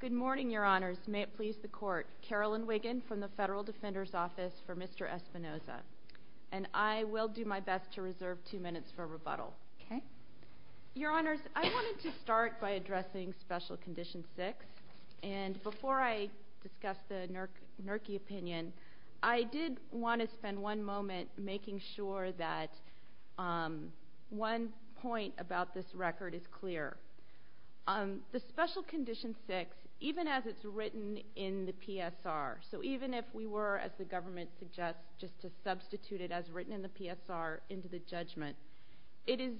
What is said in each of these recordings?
Good morning, Your Honors. May it please the Court, Carolyn Wiggin from the Federal Defender's Office for Mr. Espinoza. And I will do my best to reserve two minutes for rebuttal. Okay. Your Honors, I wanted to start by addressing Special Condition 6. And before I discuss the Nerke opinion, I did want to spend one moment making sure that one point about this record is clear. The Special Condition 6, even as it's written in the PSR, so even if we were, as the government suggests, just to substitute it as written in the PSR into the judgment, it is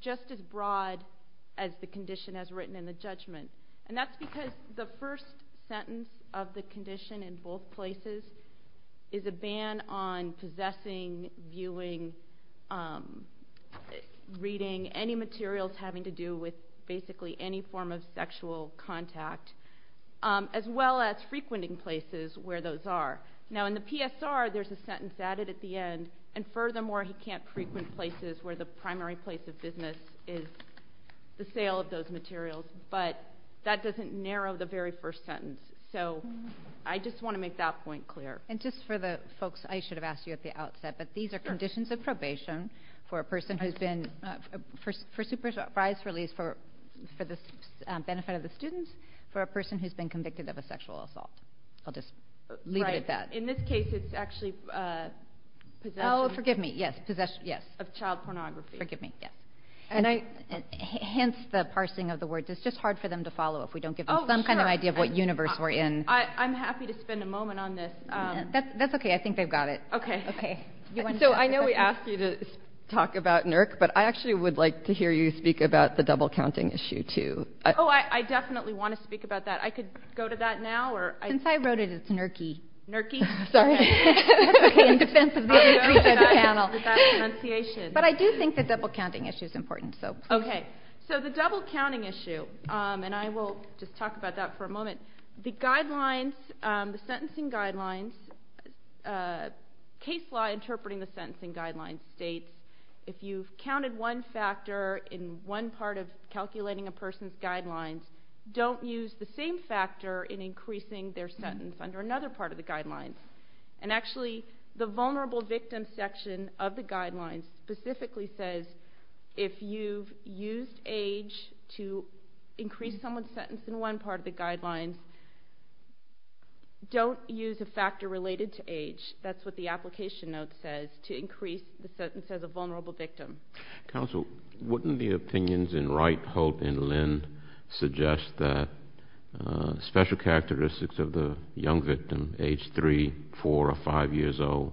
just as broad as the condition as written in the judgment. And that's because the first sentence of the condition in both places is a ban on possessing, viewing, reading, any materials having to do with basically any form of sexual contact, as well as frequenting places where those are. Now, in the PSR, there's a sentence added at the end, and furthermore, he can't frequent places where the primary place of business is the sale of those materials. But that doesn't narrow the very first sentence. So I just want to make that point clear. And just for the folks, I should have asked you at the outset, but these are conditions of probation for a person who's been, for supervised release, for the benefit of the students, for a person who's been convicted of a sexual assault. I'll just leave it at that. Right. In this case, it's actually possession. Oh, forgive me, yes, possession, yes. Of child pornography. Forgive me, yes. Hence, the parsing of the words. It's just hard for them to follow if we don't give them some kind of idea of what universe we're in. I'm happy to spend a moment on this. That's okay. I think they've got it. Okay. So I know we asked you to talk about NERC, but I actually would like to hear you speak about the double-counting issue, too. Oh, I definitely want to speak about that. I could go to that now? Since I wrote it, it's NERC-y. NERC-y? Sorry. Okay, in defense of the three-head panel. But I do think the double-counting issue is important. Okay. So the double-counting issue, and I will just talk about that for a moment. The guidelines, the sentencing guidelines, case law interpreting the sentencing guidelines states if you've counted one factor in one part of calculating a person's guidelines, don't use the same factor in increasing their sentence under another part of the guidelines. And actually, the vulnerable victim section of the guidelines specifically says if you've used age to increase someone's sentence in one part of the guidelines, don't use a factor related to age. That's what the application note says, to increase the sentence as a vulnerable victim. Counsel, wouldn't the opinions in Wright, Holt, and Lind suggest that special characteristics of the young victim, age three, four, or five years old,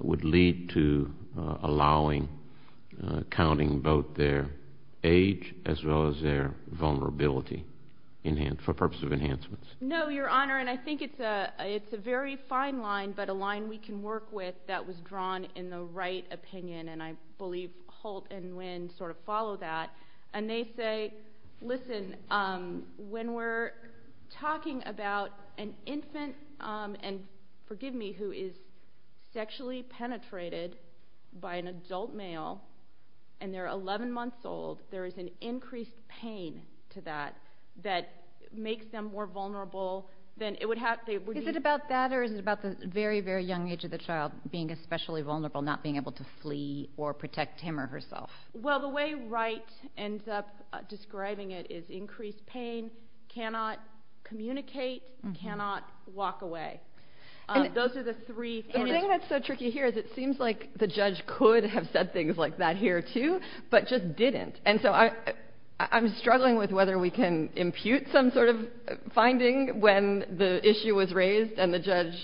would lead to allowing counting both their age as well as their vulnerability for purposes of enhancements? No, Your Honor, and I think it's a very fine line, but a line we can work with that was drawn in the Wright opinion, and I believe Holt and Lind sort of follow that. And they say, listen, when we're talking about an infant, and forgive me, who is sexually penetrated by an adult male, and they're 11 months old, there is an increased pain to that that makes them more vulnerable than it would have to be. Is it about that, or is it about the very, very young age of the child being especially vulnerable, not being able to flee or protect him or herself? Well, the way Wright ends up describing it is increased pain, cannot communicate, cannot walk away. Those are the three things. The thing that's so tricky here is it seems like the judge could have said things like that here, too, but just didn't. And so I'm struggling with whether we can impute some sort of finding when the issue was raised and the judge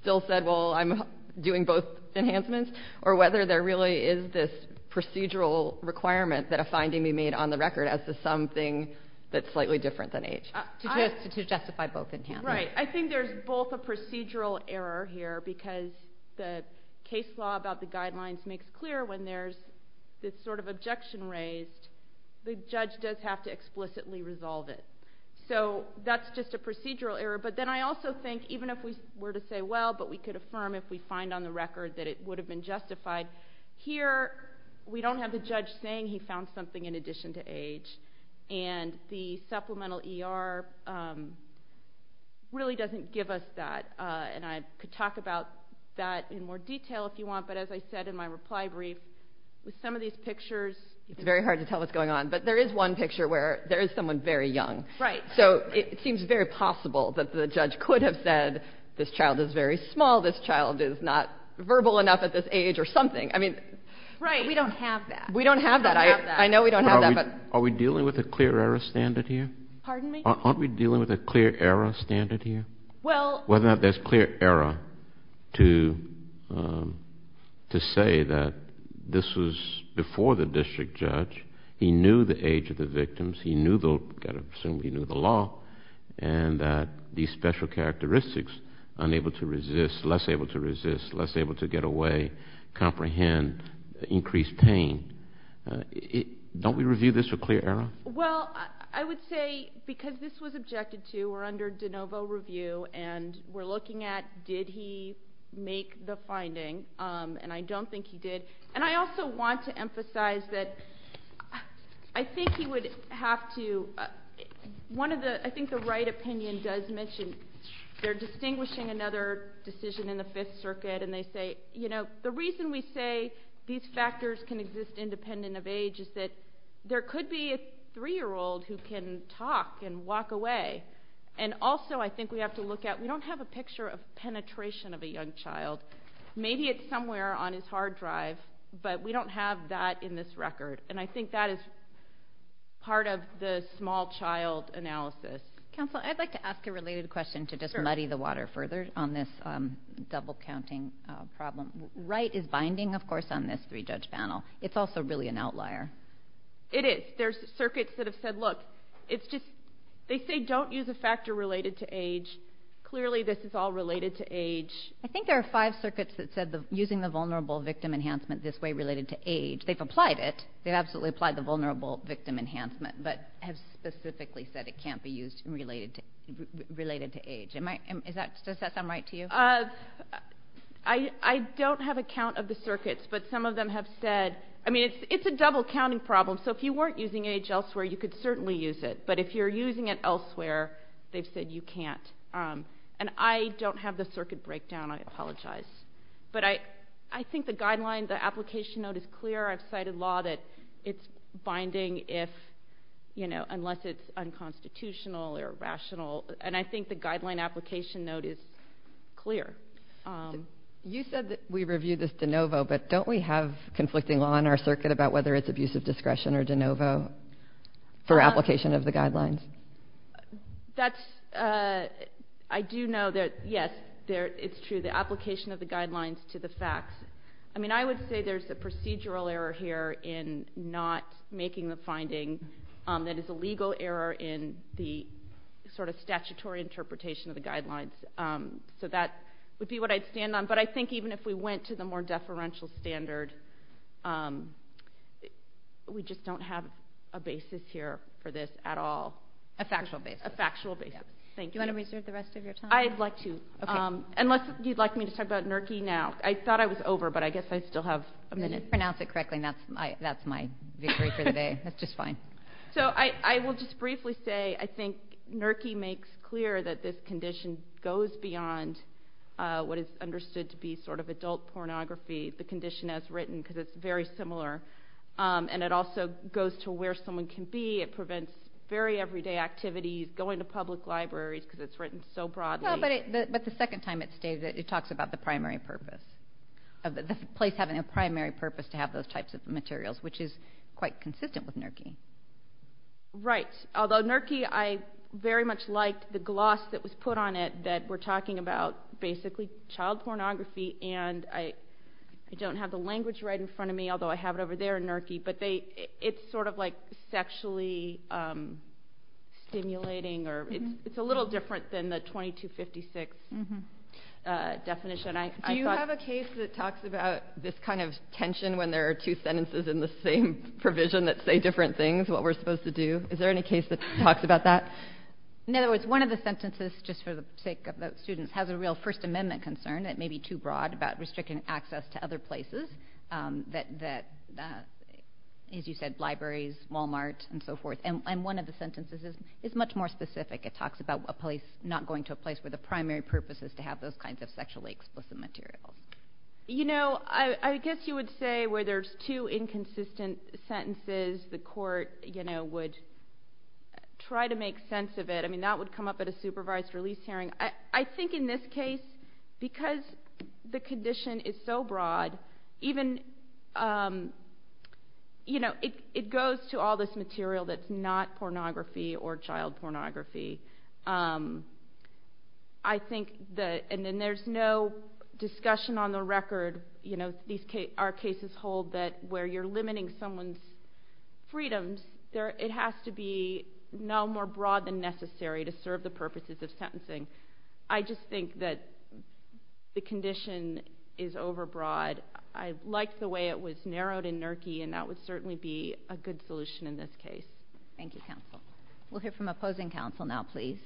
still said, well, I'm doing both enhancements, or whether there really is this procedural requirement that a finding be made on the record as something that's slightly different than age, to justify both enhancements. Right. I think there's both a procedural error here, because the case law about the guidelines makes clear when there's this sort of objection raised, the judge does have to explicitly resolve it. So that's just a procedural error. But then I also think even if we were to say, well, but we could affirm if we find on the record that it would have been justified, here we don't have the judge saying he found something in addition to age, and the supplemental ER really doesn't give us that. And I could talk about that in more detail if you want, but as I said in my reply brief, with some of these pictures, it's very hard to tell what's going on. But there is one picture where there is someone very young. So it seems very possible that the judge could have said, this child is very small, this child is not verbal enough at this age, or something. Right. We don't have that. We don't have that. I know we don't have that. Are we dealing with a clear error standard here? Pardon me? Aren't we dealing with a clear error standard here? Whether or not there's clear error to say that this was before the district judge, he knew the age of the victims, he knew the law, and that these special characteristics, unable to resist, less able to resist, less able to get away, comprehend, increase pain. Don't we review this for clear error? Well, I would say because this was objected to, we're under de novo review, and we're looking at did he make the finding, and I don't think he did. And I also want to emphasize that I think he would have to, one of the, I think the right opinion does mention, they're distinguishing another decision in the Fifth Circuit, and they say, you know, the reason we say these factors can exist independent of age is that there could be a 3-year-old who can talk and walk away. And also I think we have to look at, we don't have a picture of penetration of a young child. Maybe it's somewhere on his hard drive, but we don't have that in this record. And I think that is part of the small child analysis. Counsel, I'd like to ask a related question to just muddy the water further on this double-counting problem. Right is binding, of course, on this three-judge panel. It's also really an outlier. It is. There's circuits that have said, look, it's just, they say don't use a factor related to age. Clearly this is all related to age. I think there are five circuits that said using the vulnerable victim enhancement this way related to age. They've applied it. They've absolutely applied the vulnerable victim enhancement, but have specifically said it can't be used related to age. Does that sound right to you? I don't have a count of the circuits, but some of them have said, I mean, it's a double-counting problem. So if you weren't using age elsewhere, you could certainly use it. But if you're using it elsewhere, they've said you can't. And I don't have the circuit breakdown. I apologize. But I think the guideline, the application note is clear. I've cited law that it's binding unless it's unconstitutional or rational. And I think the guideline application note is clear. You said that we reviewed this de novo, but don't we have conflicting law in our circuit about whether it's abusive discretion or de novo for application of the guidelines? I do know that, yes, it's true. The application of the guidelines to the facts. I mean, I would say there's a procedural error here in not making the finding. That is a legal error in the sort of statutory interpretation of the guidelines. So that would be what I'd stand on. But I think even if we went to the more deferential standard, we just don't have a basis here for this at all. A factual basis. A factual basis. Thank you. Do you want to reserve the rest of your time? I'd like to, unless you'd like me to talk about NERCI now. I thought I was over, but I guess I still have a minute. If you pronounce it correctly, that's my victory for the day. That's just fine. So I will just briefly say I think NERCI makes clear that this condition goes beyond what is understood to be sort of adult pornography, the condition as written, because it's very similar. And it also goes to where someone can be. It prevents very everyday activities, going to public libraries, because it's written so broadly. But the second time it states it, it talks about the primary purpose, the place having a primary purpose to have those types of materials, which is quite consistent with NERCI. Right. Although NERCI, I very much liked the gloss that was put on it that we're talking about basically child pornography. And I don't have the language right in front of me, although I have it over there in NERCI. But it's sort of like sexually stimulating, or it's a little different than the 2256 definition. Do you have a case that talks about this kind of tension when there are two sentences in the same provision that say different things, what we're supposed to do? Is there any case that talks about that? In other words, one of the sentences, just for the sake of the students, has a real First Amendment concern that may be too broad about restricting access to other places that, as you said, libraries, Walmart, and so forth. And one of the sentences is much more specific. It talks about a place not going to a place where the primary purpose is to have those kinds of sexually explicit materials. You know, I guess you would say where there's two inconsistent sentences, the court would try to make sense of it. I mean, that would come up at a supervised release hearing. I think in this case, because the condition is so broad, even, you know, it goes to all this material that's not pornography or child pornography. I think that, and then there's no discussion on the record, you know, our cases hold that where you're limiting someone's freedoms, it has to be no more broad than necessary to serve the purposes of sentencing. I just think that the condition is overbroad. I like the way it was narrowed in NERCI, and that would certainly be a good solution in this case. Thank you, counsel. We'll hear from opposing counsel now, please.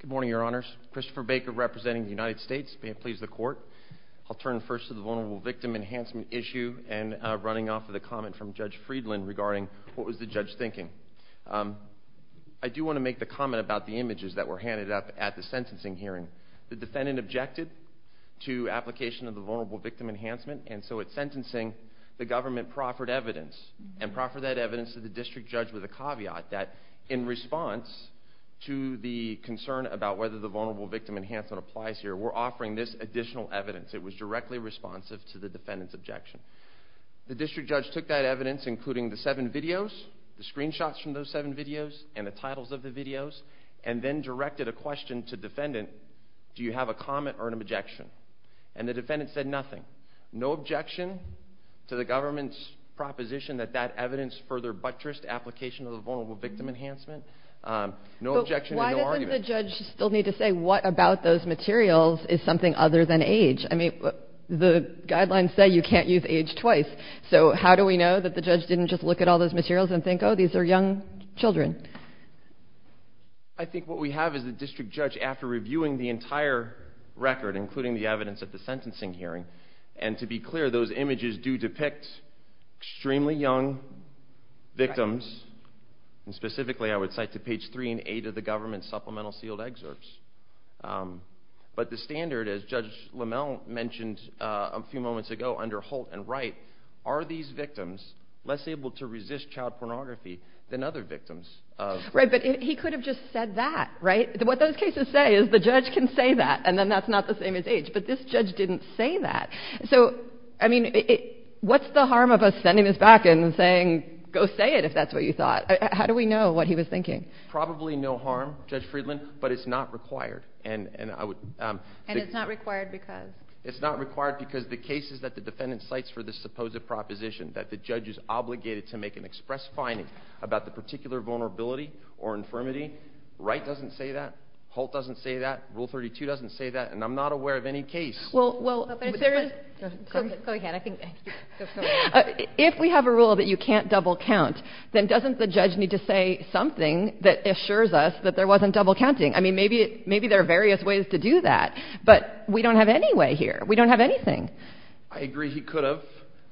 Good morning, Your Honors. Christopher Baker representing the United States. May it please the Court. I'll turn first to the vulnerable victim enhancement issue and running off of the comment from Judge Friedland regarding what was the judge thinking. I do want to make the comment about the images that were handed up at the sentencing hearing. The defendant objected to application of the vulnerable victim enhancement, and so at sentencing, the government proffered evidence, and proffered that evidence to the district judge with a caveat that, in response to the concern about whether the vulnerable victim enhancement applies here, we're offering this additional evidence. It was directly responsive to the defendant's objection. The district judge took that evidence, including the seven videos, the screenshots from those seven videos, and the titles of the videos, and then directed a question to defendant, do you have a comment or an objection? And the defendant said nothing. No objection to the government's proposition that that evidence further buttressed application of the vulnerable victim enhancement. No objection and no argument. But why doesn't the judge still need to say what about those materials is something other than age? I mean, the guidelines say you can't use age twice, so how do we know that the judge didn't just look at all those materials and think, oh, these are young children? I think what we have is the district judge, after reviewing the entire record, including the evidence at the sentencing hearing, and to be clear, those images do depict extremely young victims, and specifically I would cite to page 3 and 8 of the government's supplemental sealed excerpts. But the standard, as Judge Lamel mentioned a few moments ago under Holt and Wright, are these victims less able to resist child pornography than other victims. Right, but he could have just said that, right? What those cases say is the judge can say that, and then that's not the same as age. But this judge didn't say that. So, I mean, what's the harm of us sending this back and saying go say it if that's what you thought? How do we know what he was thinking? Probably no harm, Judge Friedland, but it's not required. And it's not required because? It's not required because the case is that the defendant cites for the supposed proposition that the judge is obligated to make an express finding about the particular vulnerability or infirmity. Wright doesn't say that. Holt doesn't say that. Rule 32 doesn't say that. And I'm not aware of any case. Well, if there is ‑‑ Go ahead. If we have a rule that you can't double count, then doesn't the judge need to say something that assures us that there wasn't double counting? I mean, maybe there are various ways to do that. But we don't have any way here. We don't have anything. I agree he could have.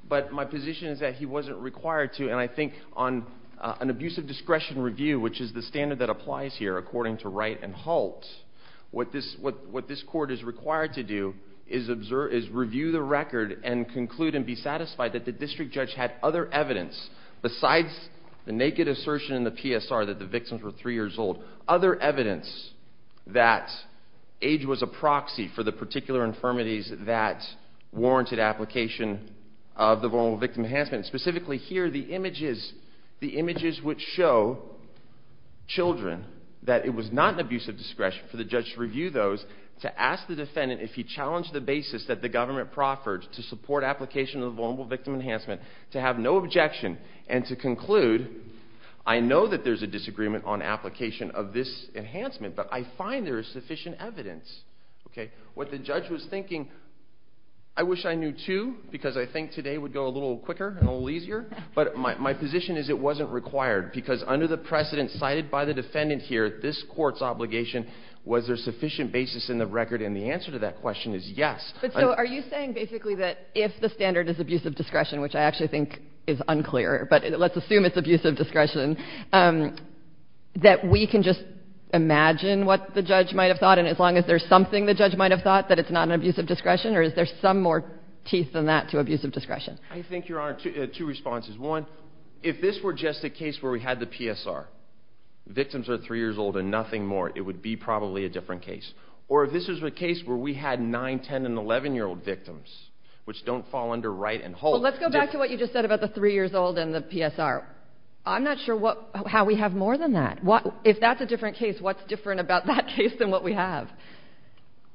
But my position is that he wasn't required to. And I think on an abuse of discretion review, which is the standard that applies here according to Wright and Holt, what this court is required to do is review the record and conclude and be satisfied that the district judge had other evidence, besides the naked assertion in the PSR that the victims were three years old, other evidence that age was a proxy for the particular infirmities that warranted application of the Vulnerable Victim Enhancement. And specifically here, the images which show children, that it was not an abuse of discretion for the judge to review those, to ask the defendant if he challenged the basis that the government proffered to support application of the Vulnerable Victim Enhancement, to have no objection, and to conclude, I know that there's a disagreement on application of this enhancement, but I find there is sufficient evidence. What the judge was thinking, I wish I knew too, because I think today would go a little quicker and a little easier. But my position is it wasn't required, because under the precedent cited by the defendant here, this court's obligation was there sufficient basis in the record, and the answer to that question is yes. So are you saying basically that if the standard is abuse of discretion, which I actually think is unclear, but let's assume it's abuse of discretion, that we can just imagine what the judge might have thought, and as long as there's something the judge might have thought, that it's not an abuse of discretion, or is there some more teeth than that to abuse of discretion? I think, Your Honor, two responses. One, if this were just a case where we had the PSR, victims are 3 years old and nothing more, it would be probably a different case. Or if this was a case where we had 9-, 10-, and 11-year-old victims, which don't fall under right and hold. Well, let's go back to what you just said about the 3 years old and the PSR. I'm not sure how we have more than that. If that's a different case, what's different about that case than what we have?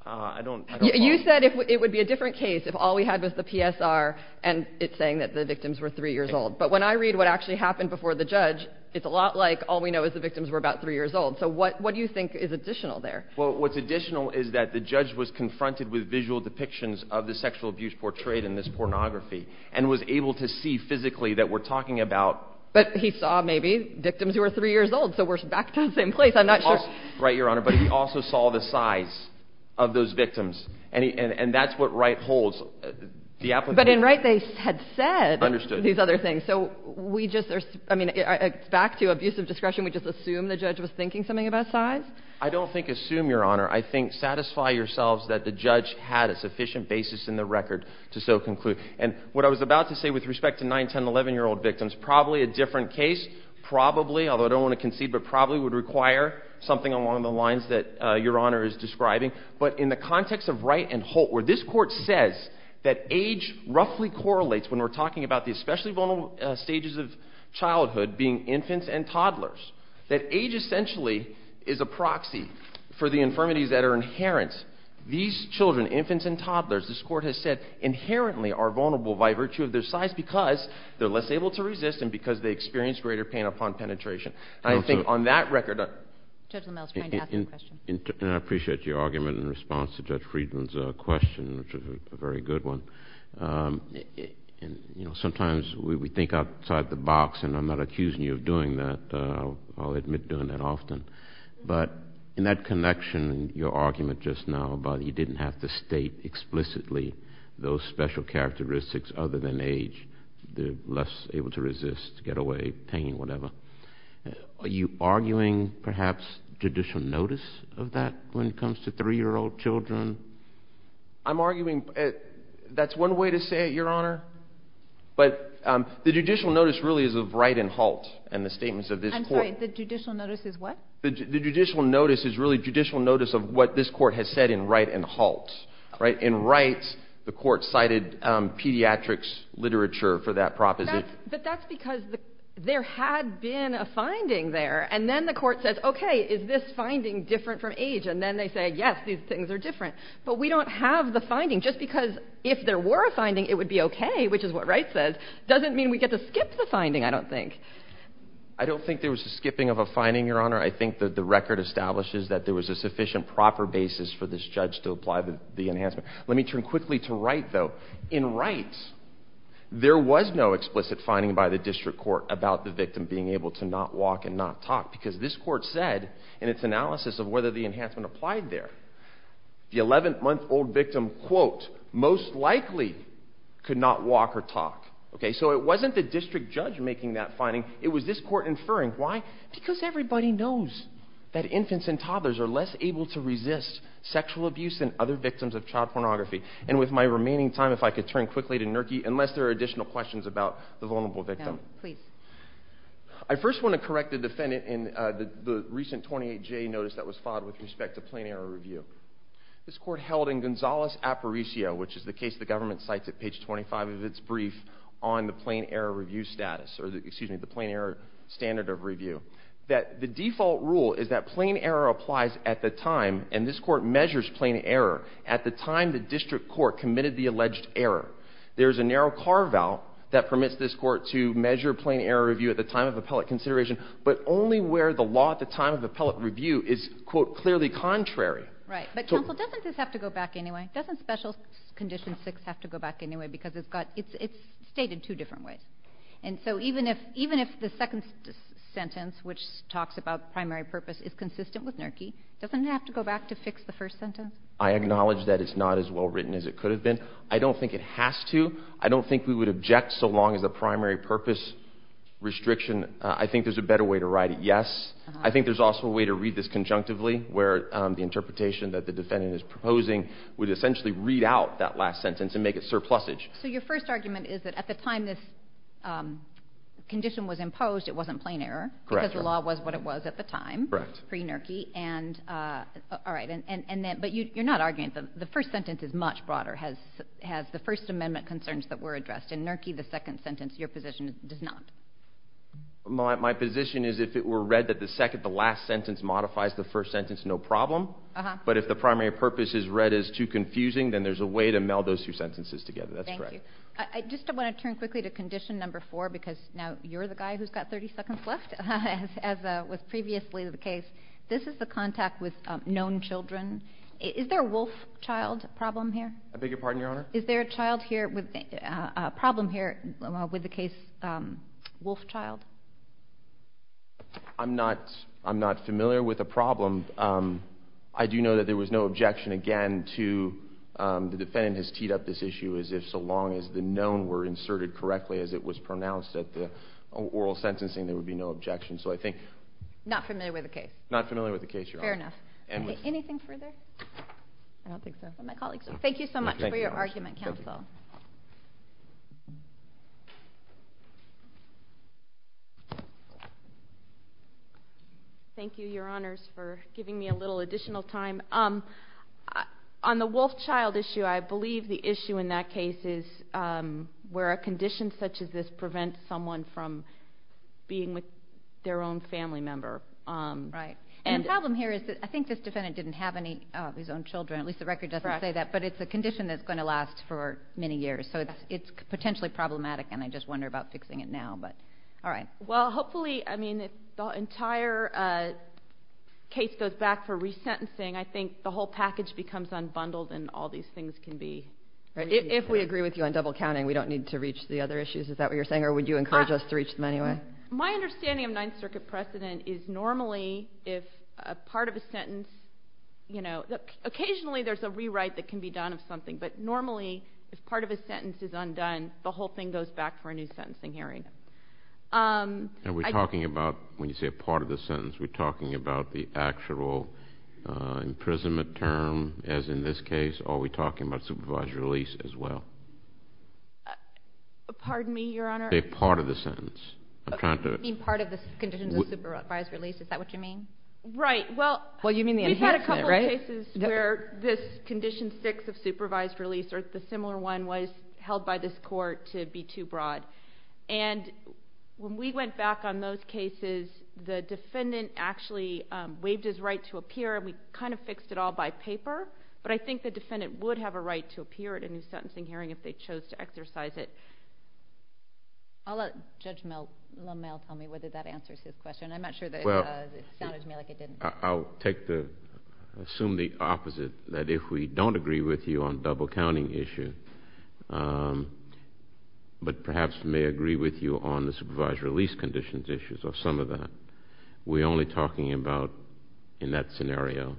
I don't know. You said it would be a different case if all we had was the PSR and it's saying that the victims were 3 years old. But when I read what actually happened before the judge, it's a lot like all we know is the victims were about 3 years old. So what do you think is additional there? Well, what's additional is that the judge was confronted with visual depictions of the sexual abuse portrayed in this pornography and was able to see physically that we're talking about. But he saw maybe victims who were 3 years old, so we're back to the same place. I'm not sure. Right, Your Honor, but he also saw the size of those victims. And that's what Wright holds. But in Wright they had said these other things. So we just are – I mean, back to abusive discretion, I don't think assume, Your Honor. I think satisfy yourselves that the judge had a sufficient basis in the record to so conclude. And what I was about to say with respect to 9-, 10-, 11-year-old victims, probably a different case, probably, although I don't want to concede, but probably would require something along the lines that Your Honor is describing. But in the context of Wright and Holt, where this Court says that age roughly correlates when we're talking about the especially vulnerable stages of childhood, being infants and toddlers, that age essentially is a proxy for the infirmities that are inherent. These children, infants and toddlers, this Court has said, inherently are vulnerable by virtue of their size because they're less able to resist and because they experience greater pain upon penetration. I think on that record – Judge LaMelle is trying to ask a question. And I appreciate your argument in response to Judge Friedman's question, which was a very good one. Sometimes we think outside the box, and I'm not accusing you of doing that. I'll admit doing that often. But in that connection, your argument just now about you didn't have to state explicitly those special characteristics other than age, they're less able to resist, get away, pain, whatever. Are you arguing perhaps judicial notice of that when it comes to 3-year-old children? I'm arguing that's one way to say it, Your Honor. But the judicial notice really is of right and halt in the statements of this Court. I'm sorry. The judicial notice is what? The judicial notice is really judicial notice of what this Court has said in right and halt. In right, the Court cited pediatrics literature for that proposition. But that's because there had been a finding there. And then the Court says, okay, is this finding different from age? And then they say, yes, these things are different. But we don't have the finding just because if there were a finding, it would be okay, which is what Wright says, doesn't mean we get to skip the finding, I don't think. I don't think there was a skipping of a finding, Your Honor. I think that the record establishes that there was a sufficient proper basis for this judge to apply the enhancement. Let me turn quickly to right, though. In right, there was no explicit finding by the district court about the victim being able to not walk and not talk because this Court said in its analysis of whether the enhancement applied there, the 11-month-old victim, quote, most likely could not walk or talk. So it wasn't the district judge making that finding. It was this Court inferring. Why? Because everybody knows that infants and toddlers are less able to resist sexual abuse than other victims of child pornography. And with my remaining time, if I could turn quickly to Nurki, unless there are additional questions about the vulnerable victim. No, please. I first want to correct the defendant in the recent 28J notice that was filed with respect to plain error review. This Court held in Gonzales-Aparicio, which is the case the government cites at page 25 of its brief, on the plain error review status, or excuse me, the plain error standard of review, that the default rule is that plain error applies at the time, and this Court measures plain error, at the time the district court committed the alleged error. There is a narrow carve-out that permits this Court to measure plain error review at the time of appellate consideration, but only where the law at the time of appellate review is, quote, clearly contrary. Right. But, counsel, doesn't this have to go back anyway? Doesn't special condition 6 have to go back anyway? Because it's stated two different ways. And so even if the second sentence, which talks about primary purpose, is consistent with Nurki, doesn't it have to go back to fix the first sentence? I acknowledge that it's not as well written as it could have been. I don't think it has to. I don't think we would object so long as a primary purpose restriction I think there's a better way to write it, yes. I think there's also a way to read this conjunctively, where the interpretation that the defendant is proposing would essentially read out that last sentence and make it surplusage. So your first argument is that at the time this condition was imposed, it wasn't plain error, because the law was what it was at the time, pre-Nurki. Correct. All right. But you're not arguing that the first sentence is much broader, has the First Amendment concerns that were addressed. In Nurki, the second sentence, your position does not. My position is if it were read that the last sentence modifies the first sentence, no problem, but if the primary purpose is read as too confusing, then there's a way to meld those two sentences together. That's correct. Thank you. I just want to turn quickly to condition number four, because now you're the guy who's got 30 seconds left, as was previously the case. This is the contact with known children. Is there a wolf child problem here? I beg your pardon, Your Honor? Is there a problem here with the case wolf child? I'm not familiar with a problem. I do know that there was no objection again to the defendant has teed up this issue as if so long as the known were inserted correctly as it was pronounced at the oral sentencing, there would be no objection. So I think— Not familiar with the case? Not familiar with the case, Your Honor. Fair enough. Anything further? I don't think so. Thank you so much for your argument, Counsel. Thank you, Your Honors, for giving me a little additional time. On the wolf child issue, I believe the issue in that case is where a condition such as this prevents someone from being with their own family member. Right. And the problem here is that I think this defendant didn't have any of his own children. At least the record doesn't say that. Correct. But it's a condition that's going to last for many years. So it's potentially problematic, and I just wonder about fixing it now. All right. Well, hopefully—I mean, if the entire case goes back for resentencing, I think the whole package becomes unbundled and all these things can be— If we agree with you on double counting, we don't need to reach the other issues. Is that what you're saying, or would you encourage us to reach them anyway? My understanding of Ninth Circuit precedent is normally if part of a sentence— Occasionally there's a rewrite that can be done of something, but normally if part of a sentence is undone, the whole thing goes back for a new sentencing hearing. Are we talking about, when you say part of the sentence, are we talking about the actual imprisonment term, as in this case, or are we talking about supervised release as well? Pardon me, Your Honor? Say part of the sentence. I'm trying to— You mean part of the conditions of supervised release. Is that what you mean? Right. Well, you mean the enhancement, right? Yes, where this Condition 6 of supervised release, or the similar one, was held by this court to be too broad. And when we went back on those cases, the defendant actually waived his right to appear, and we kind of fixed it all by paper, but I think the defendant would have a right to appear at a new sentencing hearing if they chose to exercise it. I'll let Judge LaMalle tell me whether that answers his question. I'm not sure that it sounded to me like it didn't. I'll assume the opposite, that if we don't agree with you on the double-counting issue, but perhaps may agree with you on the supervised release conditions issues or some of that, we're only talking about, in that scenario,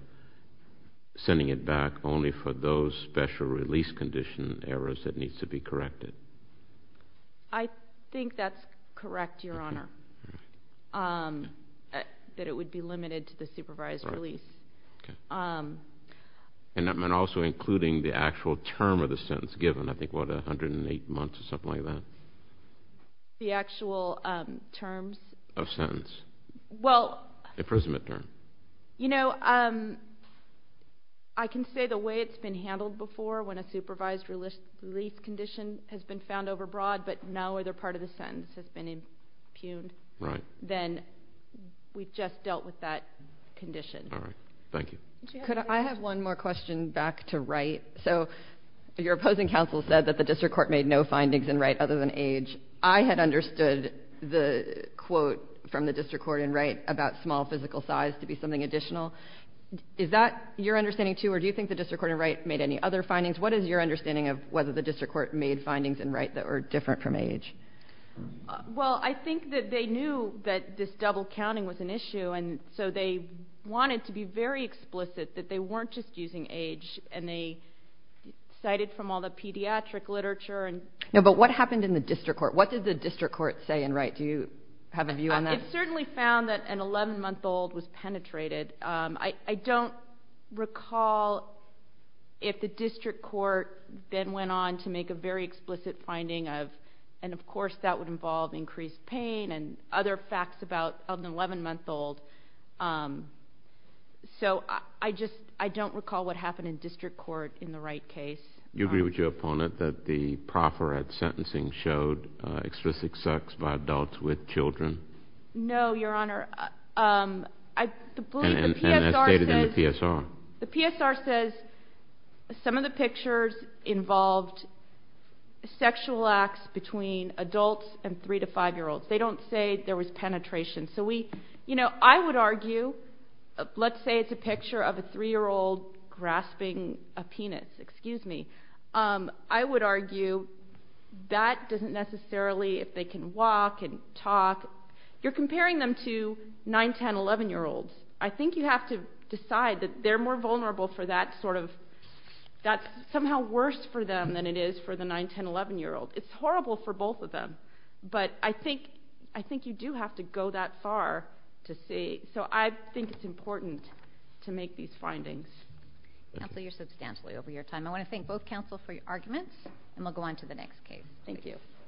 sending it back only for those special release condition errors that need to be corrected. I think that's correct, Your Honor, that it would be limited to the supervised release. And also including the actual term of the sentence given. I think, what, 108 months or something like that? The actual terms? Of sentence. Imprisonment term. You know, I can say the way it's been handled before when a supervised release condition has been found overbroad, but now either part of the sentence has been impugned. Right. Then we've just dealt with that condition. All right. Thank you. Could I have one more question back to Wright? So your opposing counsel said that the district court made no findings in Wright other than age. I had understood the quote from the district court in Wright about small physical size to be something additional. Is that your understanding, too, or do you think the district court in Wright made any other findings? What is your understanding of whether the district court made findings in Wright that were different from age? Well, I think that they knew that this double counting was an issue, and so they wanted to be very explicit that they weren't just using age, and they cited from all the pediatric literature. No, but what happened in the district court? What did the district court say in Wright? Do you have a view on that? It certainly found that an 11-month-old was penetrated. I don't recall if the district court then went on to make a very explicit finding of, and of course that would involve increased pain and other facts of an 11-month-old. So I just don't recall what happened in district court in the Wright case. Do you agree with your opponent that the proffer at sentencing showed explicit sex by adults with children? No, Your Honor. And as stated in the PSR. The PSR says some of the pictures involved sexual acts between adults and 3- to 5-year-olds. They don't say there was penetration. So I would argue, let's say it's a picture of a 3-year-old grasping a penis. Excuse me. I would argue that doesn't necessarily, if they can walk and talk, you're comparing them to 9, 10, 11-year-olds. I think you have to decide that they're more vulnerable for that sort of, that's somehow worse for them than it is for the 9, 10, 11-year-old. It's horrible for both of them. But I think you do have to go that far to see. So I think it's important to make these findings. Counsel, you're substantially over your time. I want to thank both counsel for your arguments, and we'll go on to the next case. Thank you.